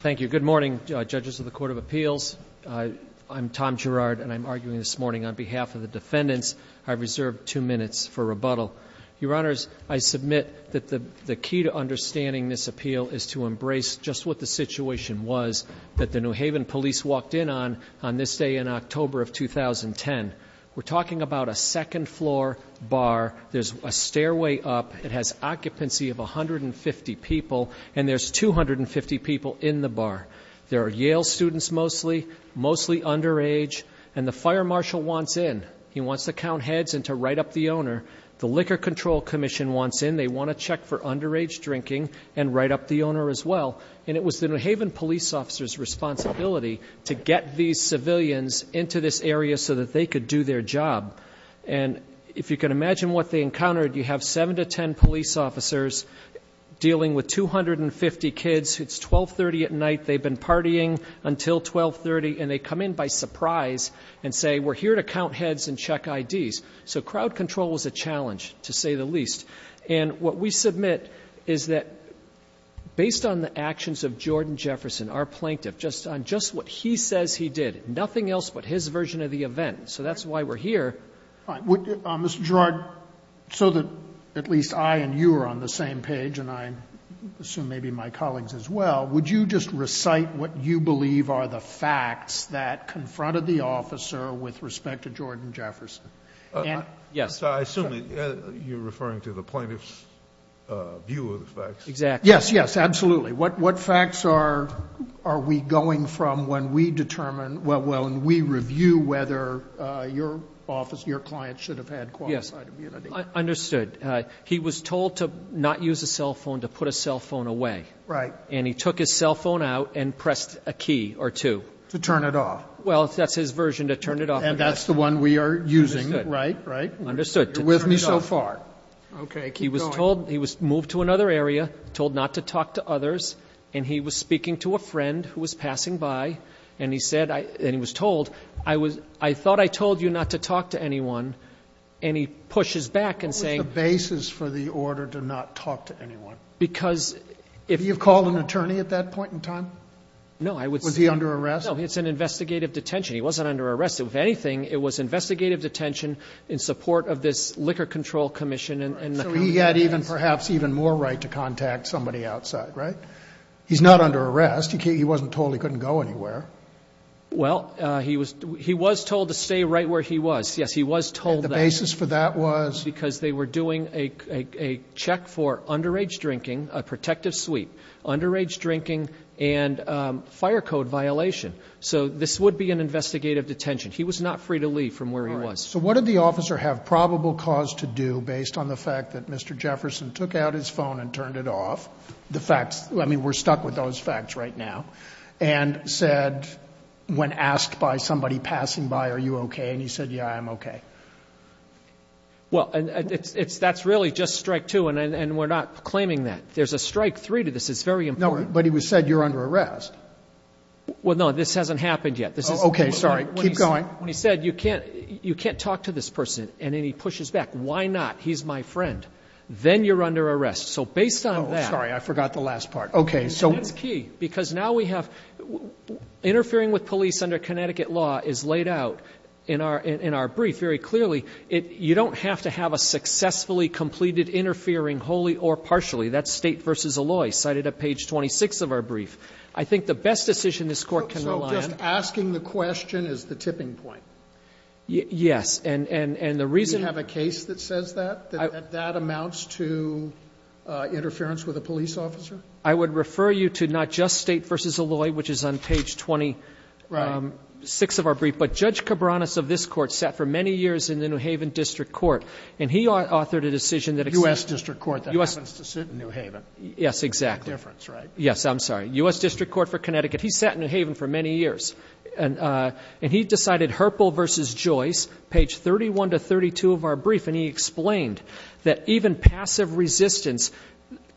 Thank you. Good morning, Judges of the Court of Appeals. I'm Tom Gerrard, and I'm arguing this morning on behalf of the defendants, I reserve two minutes for rebuttal. Your Honors, I submit that the key to understanding this appeal is to embrace just what the situation was that the New Haven police walked in on, on this day in October of 2010. We're talking about a second floor bar. There's a stairway up. It has occupancy of 150 people, and there's 250 people in the bar. There are Yale students mostly, mostly underage, and the fire marshal wants in. He wants to count heads and to write up the owner. The Liquor Control Commission wants in. They want to check for underage drinking and write up the owner as well. And it was the New Haven police officer's responsibility to get these civilians into this area so that they could do their job. And if you can imagine what they encountered, you have seven to ten police officers dealing with 250 kids. It's 1230 at night. They've been partying until 1230, and they come in by surprise and say, we're here to count heads and check IDs. So crowd control was a challenge, to say the least. And what we submit is that based on the actions of Jordan Jefferson, our plaintiff, just on just what he says he did, nothing else but his version of the event. So that's why we're here. Mr. Girard, so that at least I and you are on the same page, and I assume maybe my colleagues as well, would you just recite what you believe are the facts that confronted the officer with respect to Jordan Jefferson? Yes. I assume you're referring to the plaintiff's view of the facts. Exactly. Yes, yes, absolutely. What facts are we going from when we determine, well, when we review whether your office, your client should have had qualified immunity? Yes, understood. He was told to not use a cell phone, to put a cell phone away. Right. And he took his cell phone out and pressed a key or two. To turn it off. Well, that's his version, to turn it off. And that's the one we are using, right? Understood. You're with me so far. Okay, keep going. He was told, he was moved to another area, told not to talk to others, and he was speaking to a friend who was passing by, and he said, and he was told, I was, I thought I told you not to talk to anyone, and he pushes back and saying. What was the basis for the order to not talk to anyone? Because if. Did you call an attorney at that point in time? No, I would say. Was he under arrest? No, it's an investigative detention. He wasn't under arrest. If anything, it was investigative detention in support of this Liquor Control Commission and. So he had perhaps even more right to contact somebody outside, right? He's not under arrest. He wasn't told he couldn't go anywhere. Well, he was told to stay right where he was. Yes, he was told that. And the basis for that was? Because they were doing a check for underage drinking, a protective suite, underage drinking, and fire code violation. So this would be an investigative detention. He was not free to leave from where he was. So what did the officer have probable cause to do based on the fact that Mr. Jefferson took out his phone and turned it off? The facts, I mean, we're stuck with those facts right now. And said, when asked by somebody passing by, are you okay? And he said, yeah, I'm okay. Well, that's really just strike two, and we're not claiming that. There's a strike three to this. It's very important. No, but he said you're under arrest. Well, no, this hasn't happened yet. Okay, sorry. Keep going. When he said you can't talk to this person, and then he pushes back, why not? He's my friend. Then you're under arrest. So based on that. Oh, sorry, I forgot the last part. Okay, so. And that's key, because now we have interfering with police under Connecticut law is laid out in our brief very clearly. You don't have to have a successfully completed interfering wholly or partially. That's State v. Alloy, cited at page 26 of our brief. I think the best decision this Court can rely on. Just asking the question is the tipping point. Yes, and the reason. Do you have a case that says that, that that amounts to interference with a police officer? I would refer you to not just State v. Alloy, which is on page 26 of our brief, but Judge Cabranes of this Court sat for many years in the New Haven District Court, and he authored a decision that exists. U.S. District Court that happens to sit in New Haven. Yes, exactly. Difference, right? Yes, I'm sorry. U.S. District Court for Connecticut. He sat in New Haven for many years. And he decided, Herpel v. Joyce, page 31 to 32 of our brief, and he explained that even passive resistance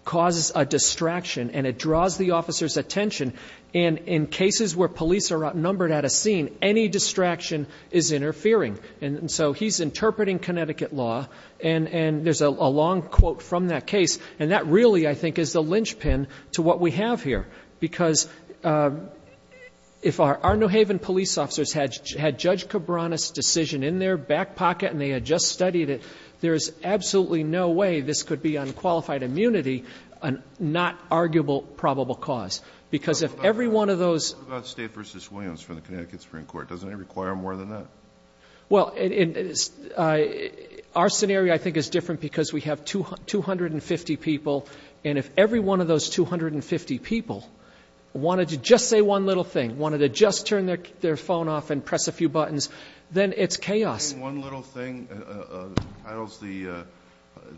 causes a distraction, and it draws the officer's attention. And in cases where police are outnumbered at a scene, any distraction is interfering. And so he's interpreting Connecticut law, and there's a long quote from that case, and that really, I think, is the linchpin to what we have here. Because if our New Haven police officers had Judge Cabranes' decision in their back pocket and they had just studied it, there is absolutely no way this could be unqualified immunity, a not-arguable probable cause. Because if every one of those — But what about State v. Williams from the Connecticut Supreme Court? Doesn't it require more than that? Well, our scenario, I think, is different because we have 250 people, and if every one of those 250 people wanted to just say one little thing, wanted to just turn their phone off and press a few buttons, then it's chaos. Saying one little thing entitles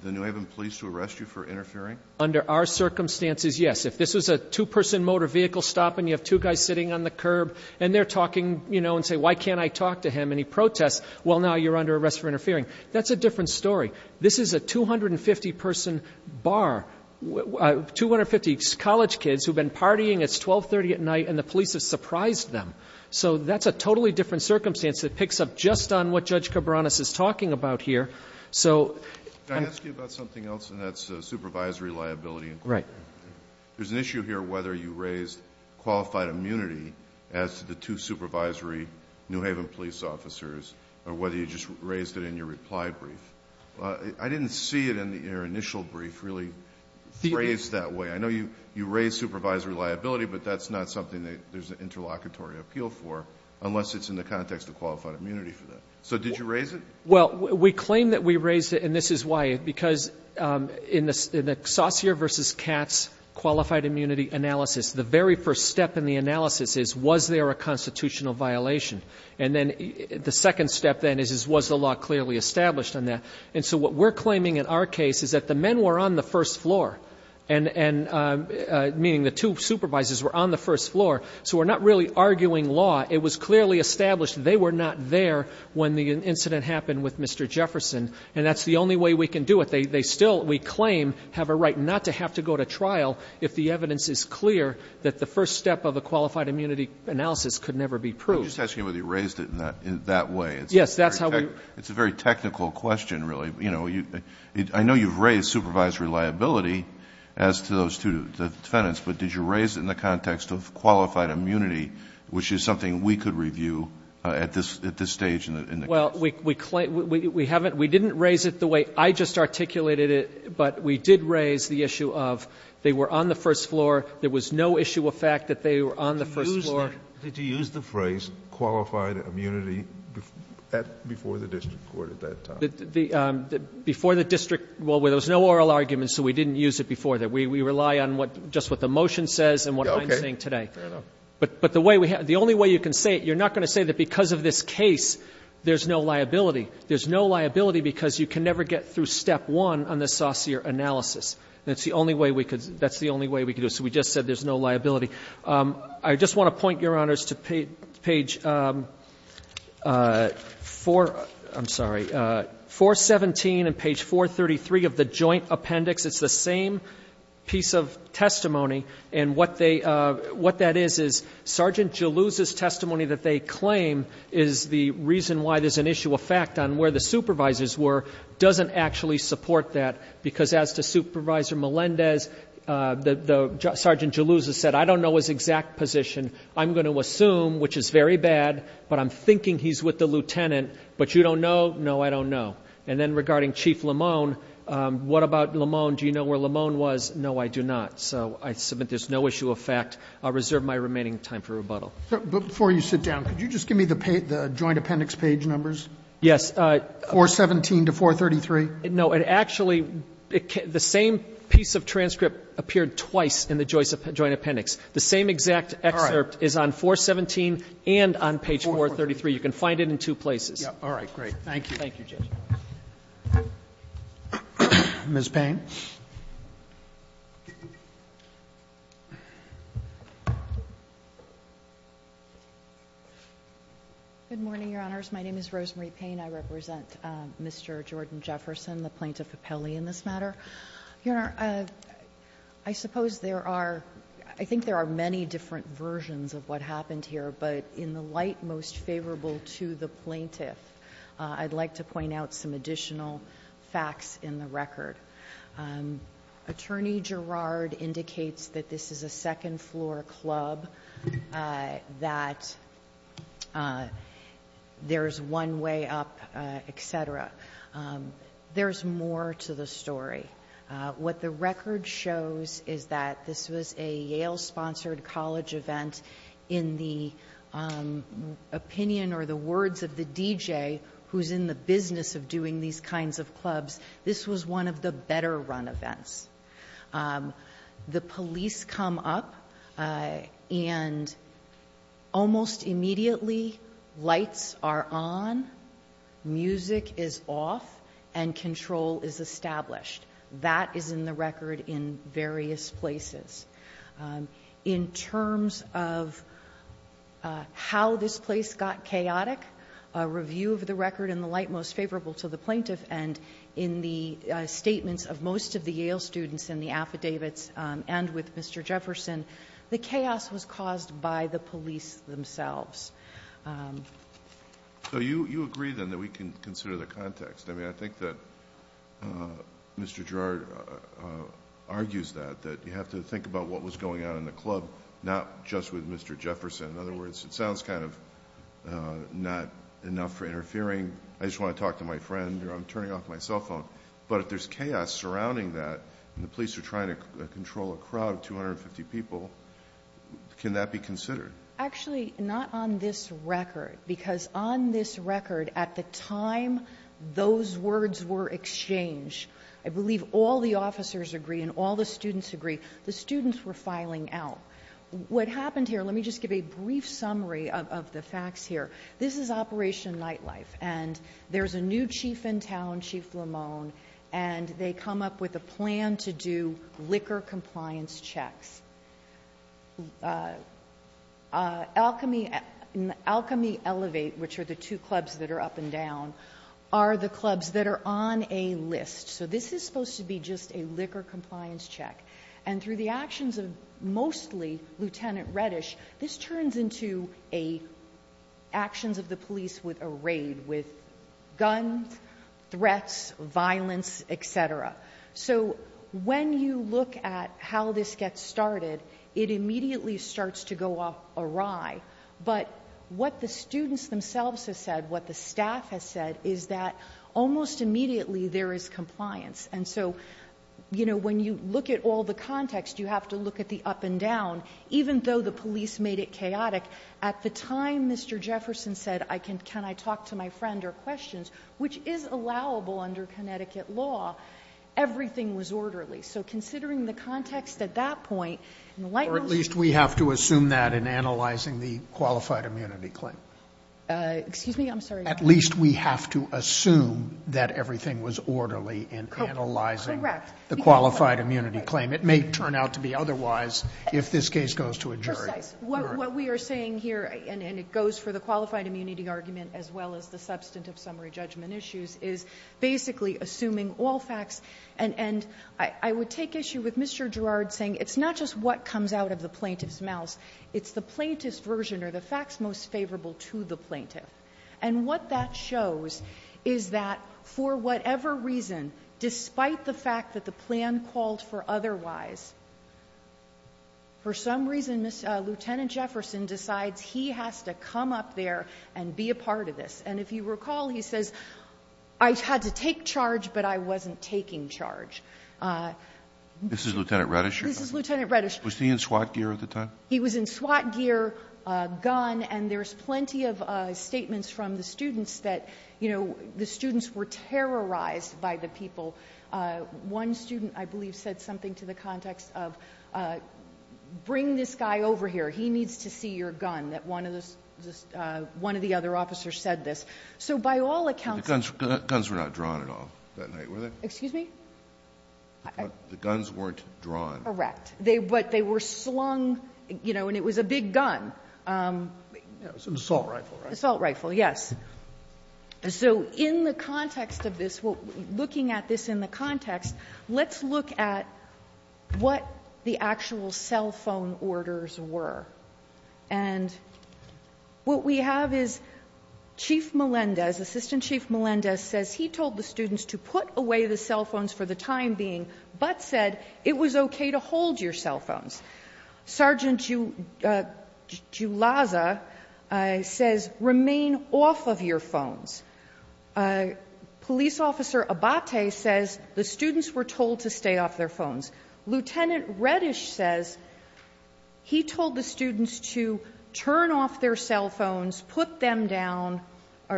the New Haven police to arrest you for interfering? Under our circumstances, yes. If this was a two-person motor vehicle stop and you have two guys sitting on the curb and they're talking, you know, and say, Why can't I talk to him? And he protests, well, now you're under arrest for interfering. That's a different story. This is a 250-person bar, 250 college kids who have been partying. It's 1230 at night and the police have surprised them. So that's a totally different circumstance that picks up just on what Judge Cabranes is talking about here. So — Can I ask you about something else, and that's supervisory liability? Right. There's an issue here whether you raised qualified immunity as to the two supervisory New Haven police officers or whether you just raised it in your reply brief. I didn't see it in your initial brief really phrased that way. I know you raised supervisory liability, but that's not something that there's an interlocutory appeal for unless it's in the context of qualified immunity for that. So did you raise it? Well, we claim that we raised it, and this is why. Because in the Saucier v. Katz qualified immunity analysis, the very first step in the analysis is, Was there a constitutional violation? And then the second step then is, Was the law clearly established on that? And so what we're claiming in our case is that the men were on the first floor, meaning the two supervisors were on the first floor. So we're not really arguing law. It was clearly established they were not there when the incident happened with Mr. Jefferson. And that's the only way we can do it. They still, we claim, have a right not to have to go to trial if the evidence is clear that the first step of a qualified immunity analysis could never be proved. I'm just asking whether you raised it in that way. Yes, that's how we. It's a very technical question, really. You know, I know you've raised supervisory liability as to those two defendants, but did you raise it in the context of qualified immunity, which is something we could review at this stage in the case? Well, we claim, we haven't, we didn't raise it the way I just articulated it, but we did raise the issue of they were on the first floor, there was no issue of fact that they were on the first floor. Did you use the phrase qualified immunity at, before the district court at that time? Before the district, well, there was no oral argument, so we didn't use it before that. We rely on what, just what the motion says and what I'm saying today. Fair enough. But the way we have, the only way you can say it, you're not going to say that because of this case, there's no liability. There's no liability because you can never get through step one on the saucier analysis. That's the only way we could, that's the only way we could do it. So we just said there's no liability. I just want to point, Your Honors, to page 4, I'm sorry, 417 and page 433 of the joint appendix. It's the same piece of testimony and what they, what that is is Sergeant Jalouz's testimony that they claim is the reason why there's an issue of fact on where the supervisors were doesn't actually support that because as to Supervisor Melendez, the Sergeant Jalouz has said, I don't know his exact position. I'm going to assume, which is very bad, but I'm thinking he's with the lieutenant, but you don't know? No, I don't know. And then regarding Chief Lamone, what about Lamone? Do you know where Lamone was? No, I do not. So I submit there's no issue of fact. I'll reserve my remaining time for rebuttal. Before you sit down, could you just give me the joint appendix page numbers? Yes. 417 to 433. No, it actually, the same piece of transcript appeared twice in the joint appendix. The same exact excerpt is on 417 and on page 433. You can find it in two places. All right. Great. Thank you. Thank you, Judge. Ms. Payne. Good morning, Your Honors. My name is Rosemary Payne. I represent Mr. Jordan Jefferson, the plaintiff appellee in this matter. Your Honor, I suppose there are, I think there are many different versions of what happened here, but in the light most favorable to the plaintiff, I'd like to point out some additional facts in the record. Attorney Girard indicates that this is a second floor club, that there's one way up, et cetera. There's more to the story. What the record shows is that this was a Yale-sponsored college event. In the opinion or the words of the DJ who's in the business of doing these kinds of clubs, this was one of the better run events. The police come up and almost immediately lights are on, music is off, and control is established. That is in the record in various places. In terms of how this place got chaotic, a review of the record in the light most students in the affidavits and with Mr. Jefferson, the chaos was caused by the police themselves. So you agree then that we can consider the context. I mean, I think that Mr. Girard argues that, that you have to think about what was going on in the club, not just with Mr. Jefferson. In other words, it sounds kind of not enough for interfering. I just want to talk to my friend. I'm turning off my cell phone. But if there's chaos surrounding that and the police are trying to control a crowd of 250 people, can that be considered? Actually, not on this record because on this record at the time those words were exchanged, I believe all the officers agree and all the students agree, the students were filing out. What happened here, let me just give a brief summary of the facts here. This is Operation Nightlife. And there's a new chief in town, Chief Lamone, and they come up with a plan to do liquor compliance checks. Alchemy Elevate, which are the two clubs that are up and down, are the clubs that are on a list. So this is supposed to be just a liquor compliance check. And through the actions of mostly Lieutenant Reddish, this turns into actions of the police with a raid, with guns, threats, violence, et cetera. So when you look at how this gets started, it immediately starts to go awry. But what the students themselves have said, what the staff has said, is that almost immediately there is compliance. And so when you look at all the context, you have to look at the up and down. Even though the police made it chaotic, at the time Mr. Jefferson said, I can, can I talk to my friend or questions, which is allowable under Connecticut law, everything was orderly. So considering the context at that point, in the lightning speed of light. Sotomayor, or at least we have to assume that in analyzing the qualified immunity claim. At least we have to assume that everything was orderly in analyzing the qualified immunity claim. It may turn out to be otherwise if this case goes to a jury. What we are saying here, and it goes for the qualified immunity argument as well as the substantive summary judgment issues, is basically assuming all facts. And I would take issue with Mr. Girard saying it's not just what comes out of the plaintiff's mouth. It's the plaintiff's version or the facts most favorable to the plaintiff. And what that shows is that for whatever reason, despite the fact that the plan called us for otherwise, for some reason, Lieutenant Jefferson decides he has to come up there and be a part of this. And if you recall, he says, I had to take charge, but I wasn't taking charge. This is Lieutenant Redish. This is Lieutenant Redish. Was he in SWAT gear at the time? He was in SWAT gear, gun, and there's plenty of statements from the students that, you know, the students were terrorized by the people. One student, I believe, said something to the context of bring this guy over here. He needs to see your gun, that one of the other officers said this. So by all accounts the guns were not drawn at all that night, were they? Excuse me? The guns weren't drawn. Correct. But they were slung, you know, and it was a big gun. It was an assault rifle, right? Assault rifle, yes. So in the context of this, looking at this in the context, let's look at what the actual cell phone orders were. And what we have is Chief Melendez, Assistant Chief Melendez, says he told the students to put away the cell phones for the time being, but said it was okay to hold your cell phones. Sergeant Julaza says remain off of your phones. Police Officer Abate says the students were told to stay off their phones. Lieutenant Reddish says he told the students to turn off their cell phones, put them down,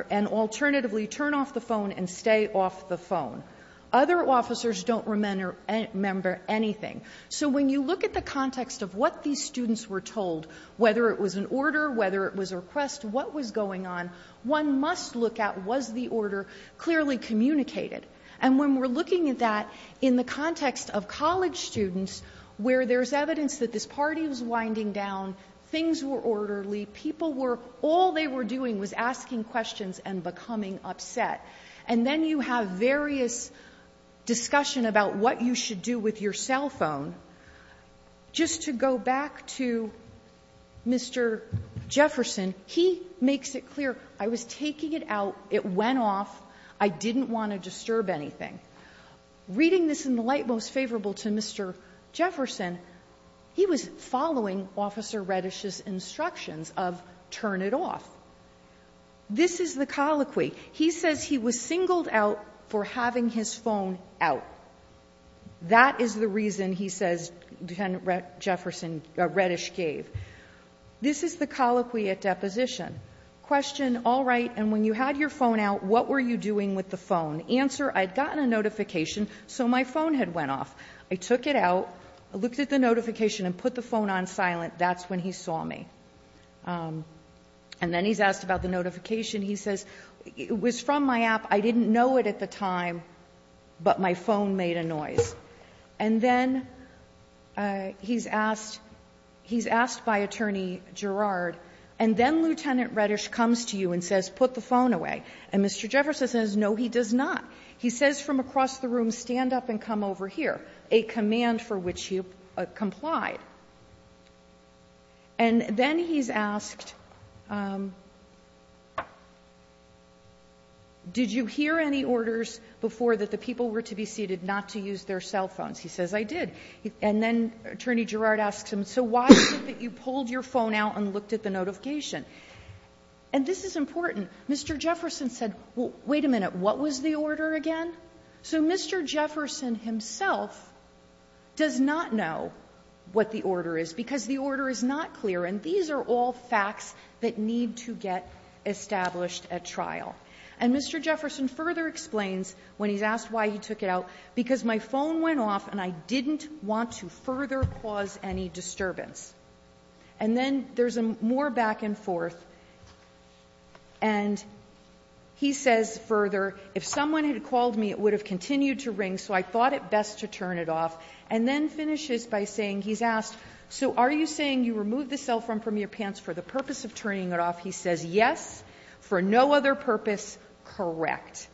and alternatively turn off the phone and stay off the phone. Other officers don't remember anything. So when you look at the context of what these students were told, whether it was an order, whether it was a request, what was going on, one must look at was the order clearly communicated. And when we're looking at that in the context of college students where there's evidence that this party was winding down, things were orderly, people were, all they were doing was asking questions and becoming upset. And then you have various discussion about what you should do with your cell phone. Just to go back to Mr. Jefferson, he makes it clear, I was taking it out, it went off, I didn't want to disturb anything. Reading this in the light most favorable to Mr. Jefferson, he was following Officer Reddish's instructions of turn it off. This is the colloquy. He says he was singled out for having his phone out. That is the reason, he says, Lieutenant Jefferson, Reddish gave. This is the colloquy at deposition. Question, all right, and when you had your phone out, what were you doing with the phone? Answer, I'd gotten a notification, so my phone had went off. I took it out, I looked at the notification and put the phone on silent. That's when he saw me. And then he's asked about the notification. He says, it was from my app. I didn't know it at the time, but my phone made a noise. And then he's asked, he's asked by Attorney Girard, and then Lieutenant Reddish comes to you and says, put the phone away. And Mr. Jefferson says, no, he does not. He says from across the room, stand up and come over here, a command for which he complied. And then he's asked, did you hear any orders before that the people were to be seated not to use their cell phones? He says, I did. And then Attorney Girard asks him, so why is it that you pulled your phone out and looked at the notification? And this is important. Mr. Jefferson said, wait a minute, what was the order again? So Mr. Jefferson himself does not know what the order is because the order is not clear. And these are all facts that need to get established at trial. And Mr. Jefferson further explains when he's asked why he took it out, because my phone went off and I didn't want to further cause any disturbance. And then there's more back and forth. And he says further, if someone had called me, it would have continued to ring, so I thought it best to turn it off. And then finishes by saying, he's asked, so are you saying you removed the cell phone from your pants for the purpose of turning it off? He says, yes, for no other purpose, correct.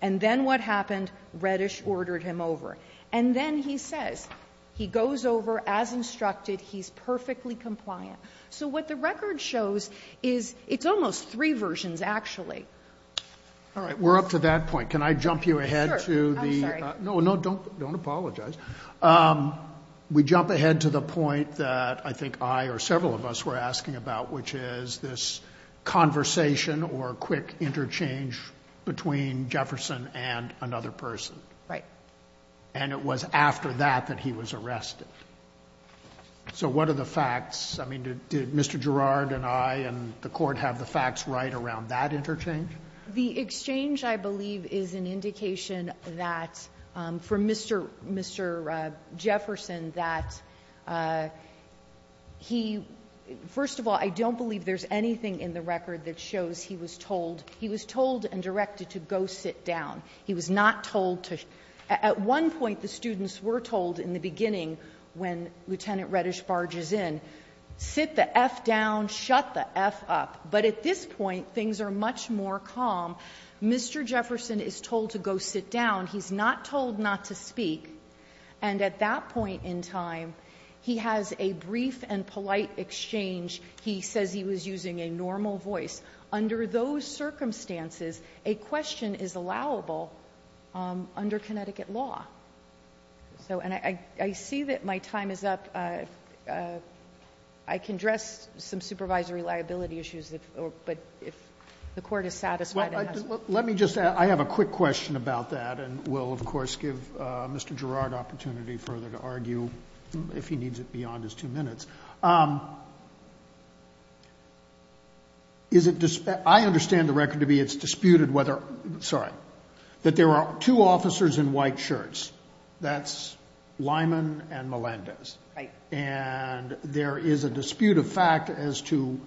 And then what happened? Reddish ordered him over. And then he says, he goes over as instructed, he's perfectly compliant. So what the record shows is it's almost three versions, actually. All right. We're up to that point. Can I jump you ahead to the... Sure. I'm sorry. No, no, don't apologize. We jump ahead to the point that I think I or several of us were asking about, which is this conversation or quick interchange between Jefferson and another person. Right. And it was after that that he was arrested. So what are the facts? I mean, did Mr. Gerrard and I and the Court have the facts right around that interchange? The exchange, I believe, is an indication that for Mr. Jefferson that he, first of all, I don't believe there's anything in the record that shows he was told. He was told and directed to go sit down. He was not told to. At one point, the students were told in the beginning when Lieutenant Reddish barges in, sit the F down, shut the F up. But at this point, things are much more calm. Mr. Jefferson is told to go sit down. He's not told not to speak. And at that point in time, he has a brief and polite exchange. He says he was using a normal voice. Under those circumstances, a question is allowable under Connecticut law. And I see that my time is up. I can address some supervisory liability issues, but if the Court is satisfied. Let me just add, I have a quick question about that, and we'll, of course, give Mr. Gerrard opportunity further to argue if he needs it beyond his two minutes. I understand the record to be it's disputed whether, sorry, that there are two officers in white shirts, that's Lyman and Melendez. And there is a dispute of fact as to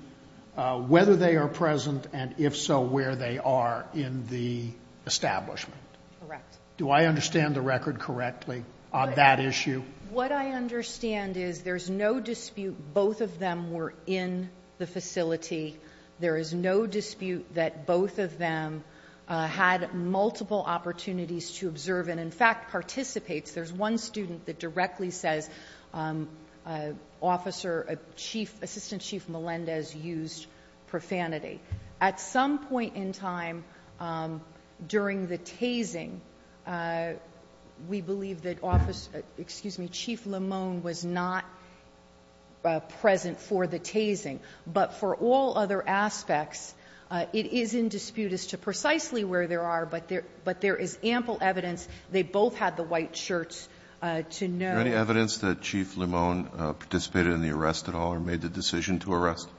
whether they are present, and if so, where they are in the establishment. Correct. Do I understand the record correctly on that issue? What I understand is there's no dispute both of them were in the facility. There is no dispute that both of them had multiple opportunities to observe and, in fact, participates. There's one student that directly says Assistant Chief Melendez used profanity. At some point in time during the tasing, we believe that office, excuse me, Chief Lemone was not present for the tasing. But for all other aspects, it is in dispute as to precisely where there are, but there is ample evidence they both had the white shirts to know. Is there any evidence that Chief Lemone participated in the arrest at all or made the decision to arrest?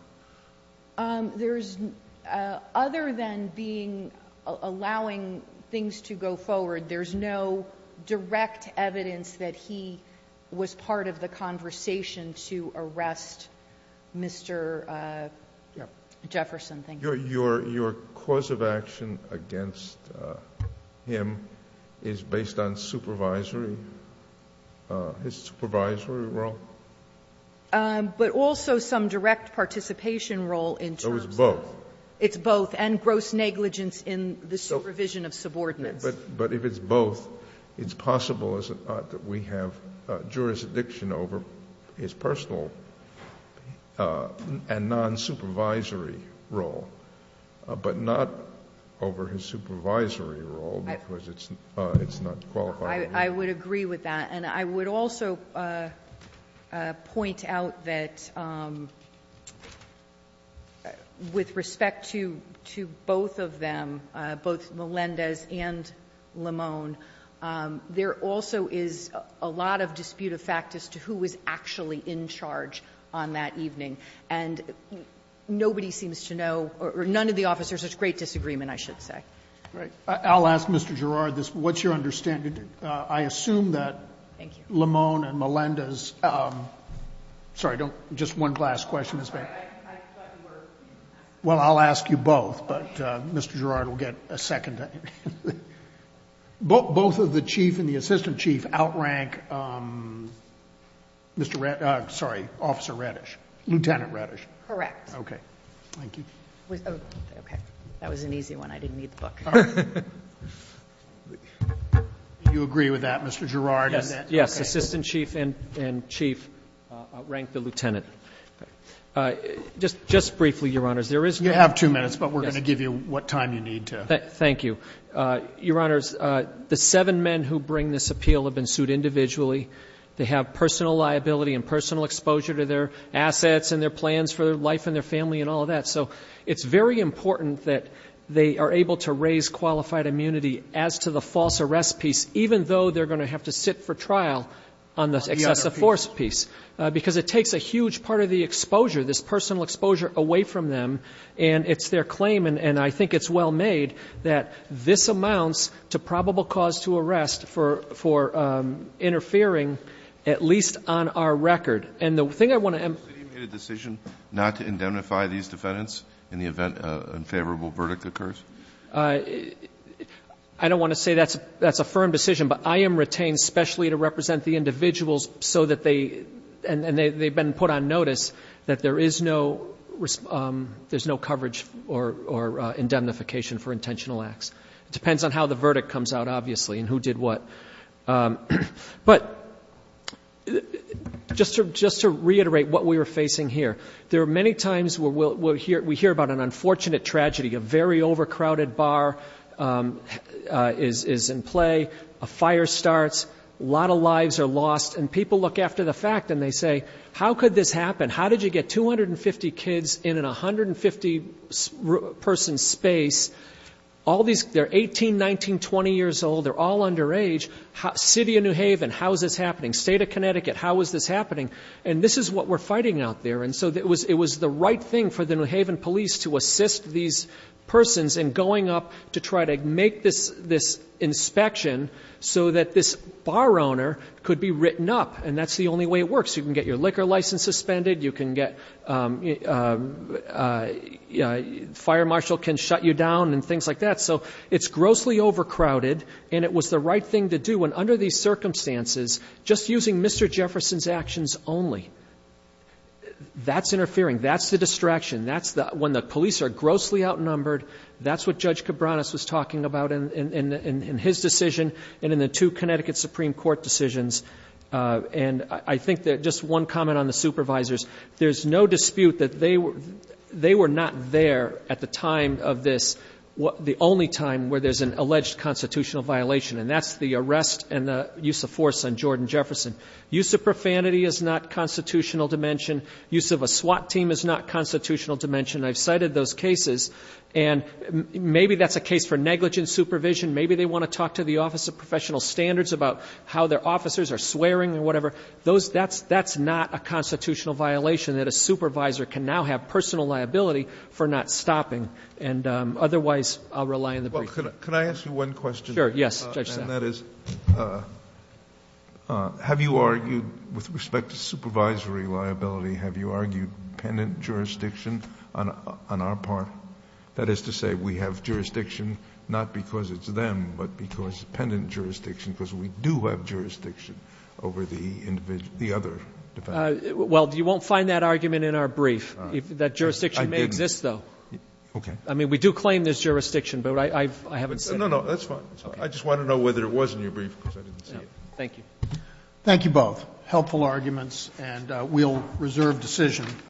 There's, other than being, allowing things to go forward, there's no direct evidence that he was part of the conversation to arrest Mr. Jefferson. Your cause of action against him is based on supervisory, his supervisory role? But also some direct participation role in terms of. It's both. And gross negligence in the supervision of subordinates. But if it's both, it's possible, is it not, that we have jurisdiction over his personal and non-supervisory role, but not over his supervisory role, because it's not qualified. I would agree with that. And I would also point out that with respect to both of them, both Melendez and Lemone, there also is a lot of dispute of fact as to who was actually in charge on that evening. And nobody seems to know, or none of the officers. There's great disagreement, I should say. All right. I'll ask Mr. Girard this. What's your understanding? I assume that Lemone and Melendez. Sorry, just one last question. Well, I'll ask you both, but Mr. Girard will get a second. Both of the chief and the assistant chief outrank Mr. Reddish, sorry, Officer Reddish, Lieutenant Reddish. Correct. Okay. Thank you. Okay. That was an easy one. I didn't need the book. All right. Do you agree with that, Mr. Girard? Yes. Yes. Assistant chief and chief outrank the lieutenant. Just briefly, Your Honors, there is no. You have two minutes, but we're going to give you what time you need to. Thank you. Your Honors, the seven men who bring this appeal have been sued individually. They have personal liability and personal exposure to their assets and their plans for their life and their family and all of that. So it's very important that they are able to raise qualified immunity as to the false arrest piece, even though they're going to have to sit for trial on the excessive force piece, because it takes a huge part of the exposure, this personal exposure, away from them, and it's their claim, and I think it's well made, that this amounts to probable cause to arrest for interfering at least on our record. So you made a decision not to indemnify these defendants in the event an unfavorable verdict occurs? I don't want to say that's a firm decision, but I am retained specially to represent the individuals so that they, and they've been put on notice that there is no coverage or indemnification for intentional acts. It depends on how the verdict comes out, obviously, and who did what. But just to reiterate what we were facing here, there are many times where we hear about an unfortunate tragedy, a very overcrowded bar is in play, a fire starts, a lot of lives are lost, and people look after the fact, and they say, how could this happen? How did you get 250 kids in an 150-person space, all these, they're 18, 19, 20 years old, they're all underage, city of New Haven, how is this happening? State of Connecticut, how is this happening? And this is what we're fighting out there. And so it was the right thing for the New Haven police to assist these persons in going up to try to make this inspection so that this bar owner could be written up. And that's the only way it works. You can get your liquor license suspended, you can get, the fire marshal can shut you down and things like that. So it's grossly overcrowded, and it was the right thing to do. And under these circumstances, just using Mr. Jefferson's actions only, that's interfering, that's the distraction, that's when the police are grossly outnumbered, that's what Judge Cabranes was talking about in his decision and in the two Connecticut Supreme Court decisions. And I think that just one comment on the supervisors, there's no dispute that they were not there at the time of this, the only time where there's an alleged constitutional violation, and that's the arrest and the use of force on Jordan Jefferson. Use of profanity is not constitutional dimension. Use of a SWAT team is not constitutional dimension. I've cited those cases, and maybe that's a case for negligent supervision. Maybe they want to talk to the Office of Professional Standards about how their officers are swearing or whatever. That's not a constitutional violation that a supervisor can now have personal liability for not stopping. And otherwise, I'll rely on the brief. Well, could I ask you one question? Sure, yes, Judge Saffer. And that is, have you argued with respect to supervisory liability, have you argued pendant jurisdiction on our part? That is to say, we have jurisdiction not because it's them, but because pendant jurisdiction, because we do have jurisdiction over the other defendants. Well, you won't find that argument in our brief. That jurisdiction may exist, though. Okay. I mean, we do claim there's jurisdiction, but I haven't seen it. No, no, that's fine. I just want to know whether it was in your brief, because I didn't see it. Thank you. Thank you both. Helpful arguments, and we'll reserve decision.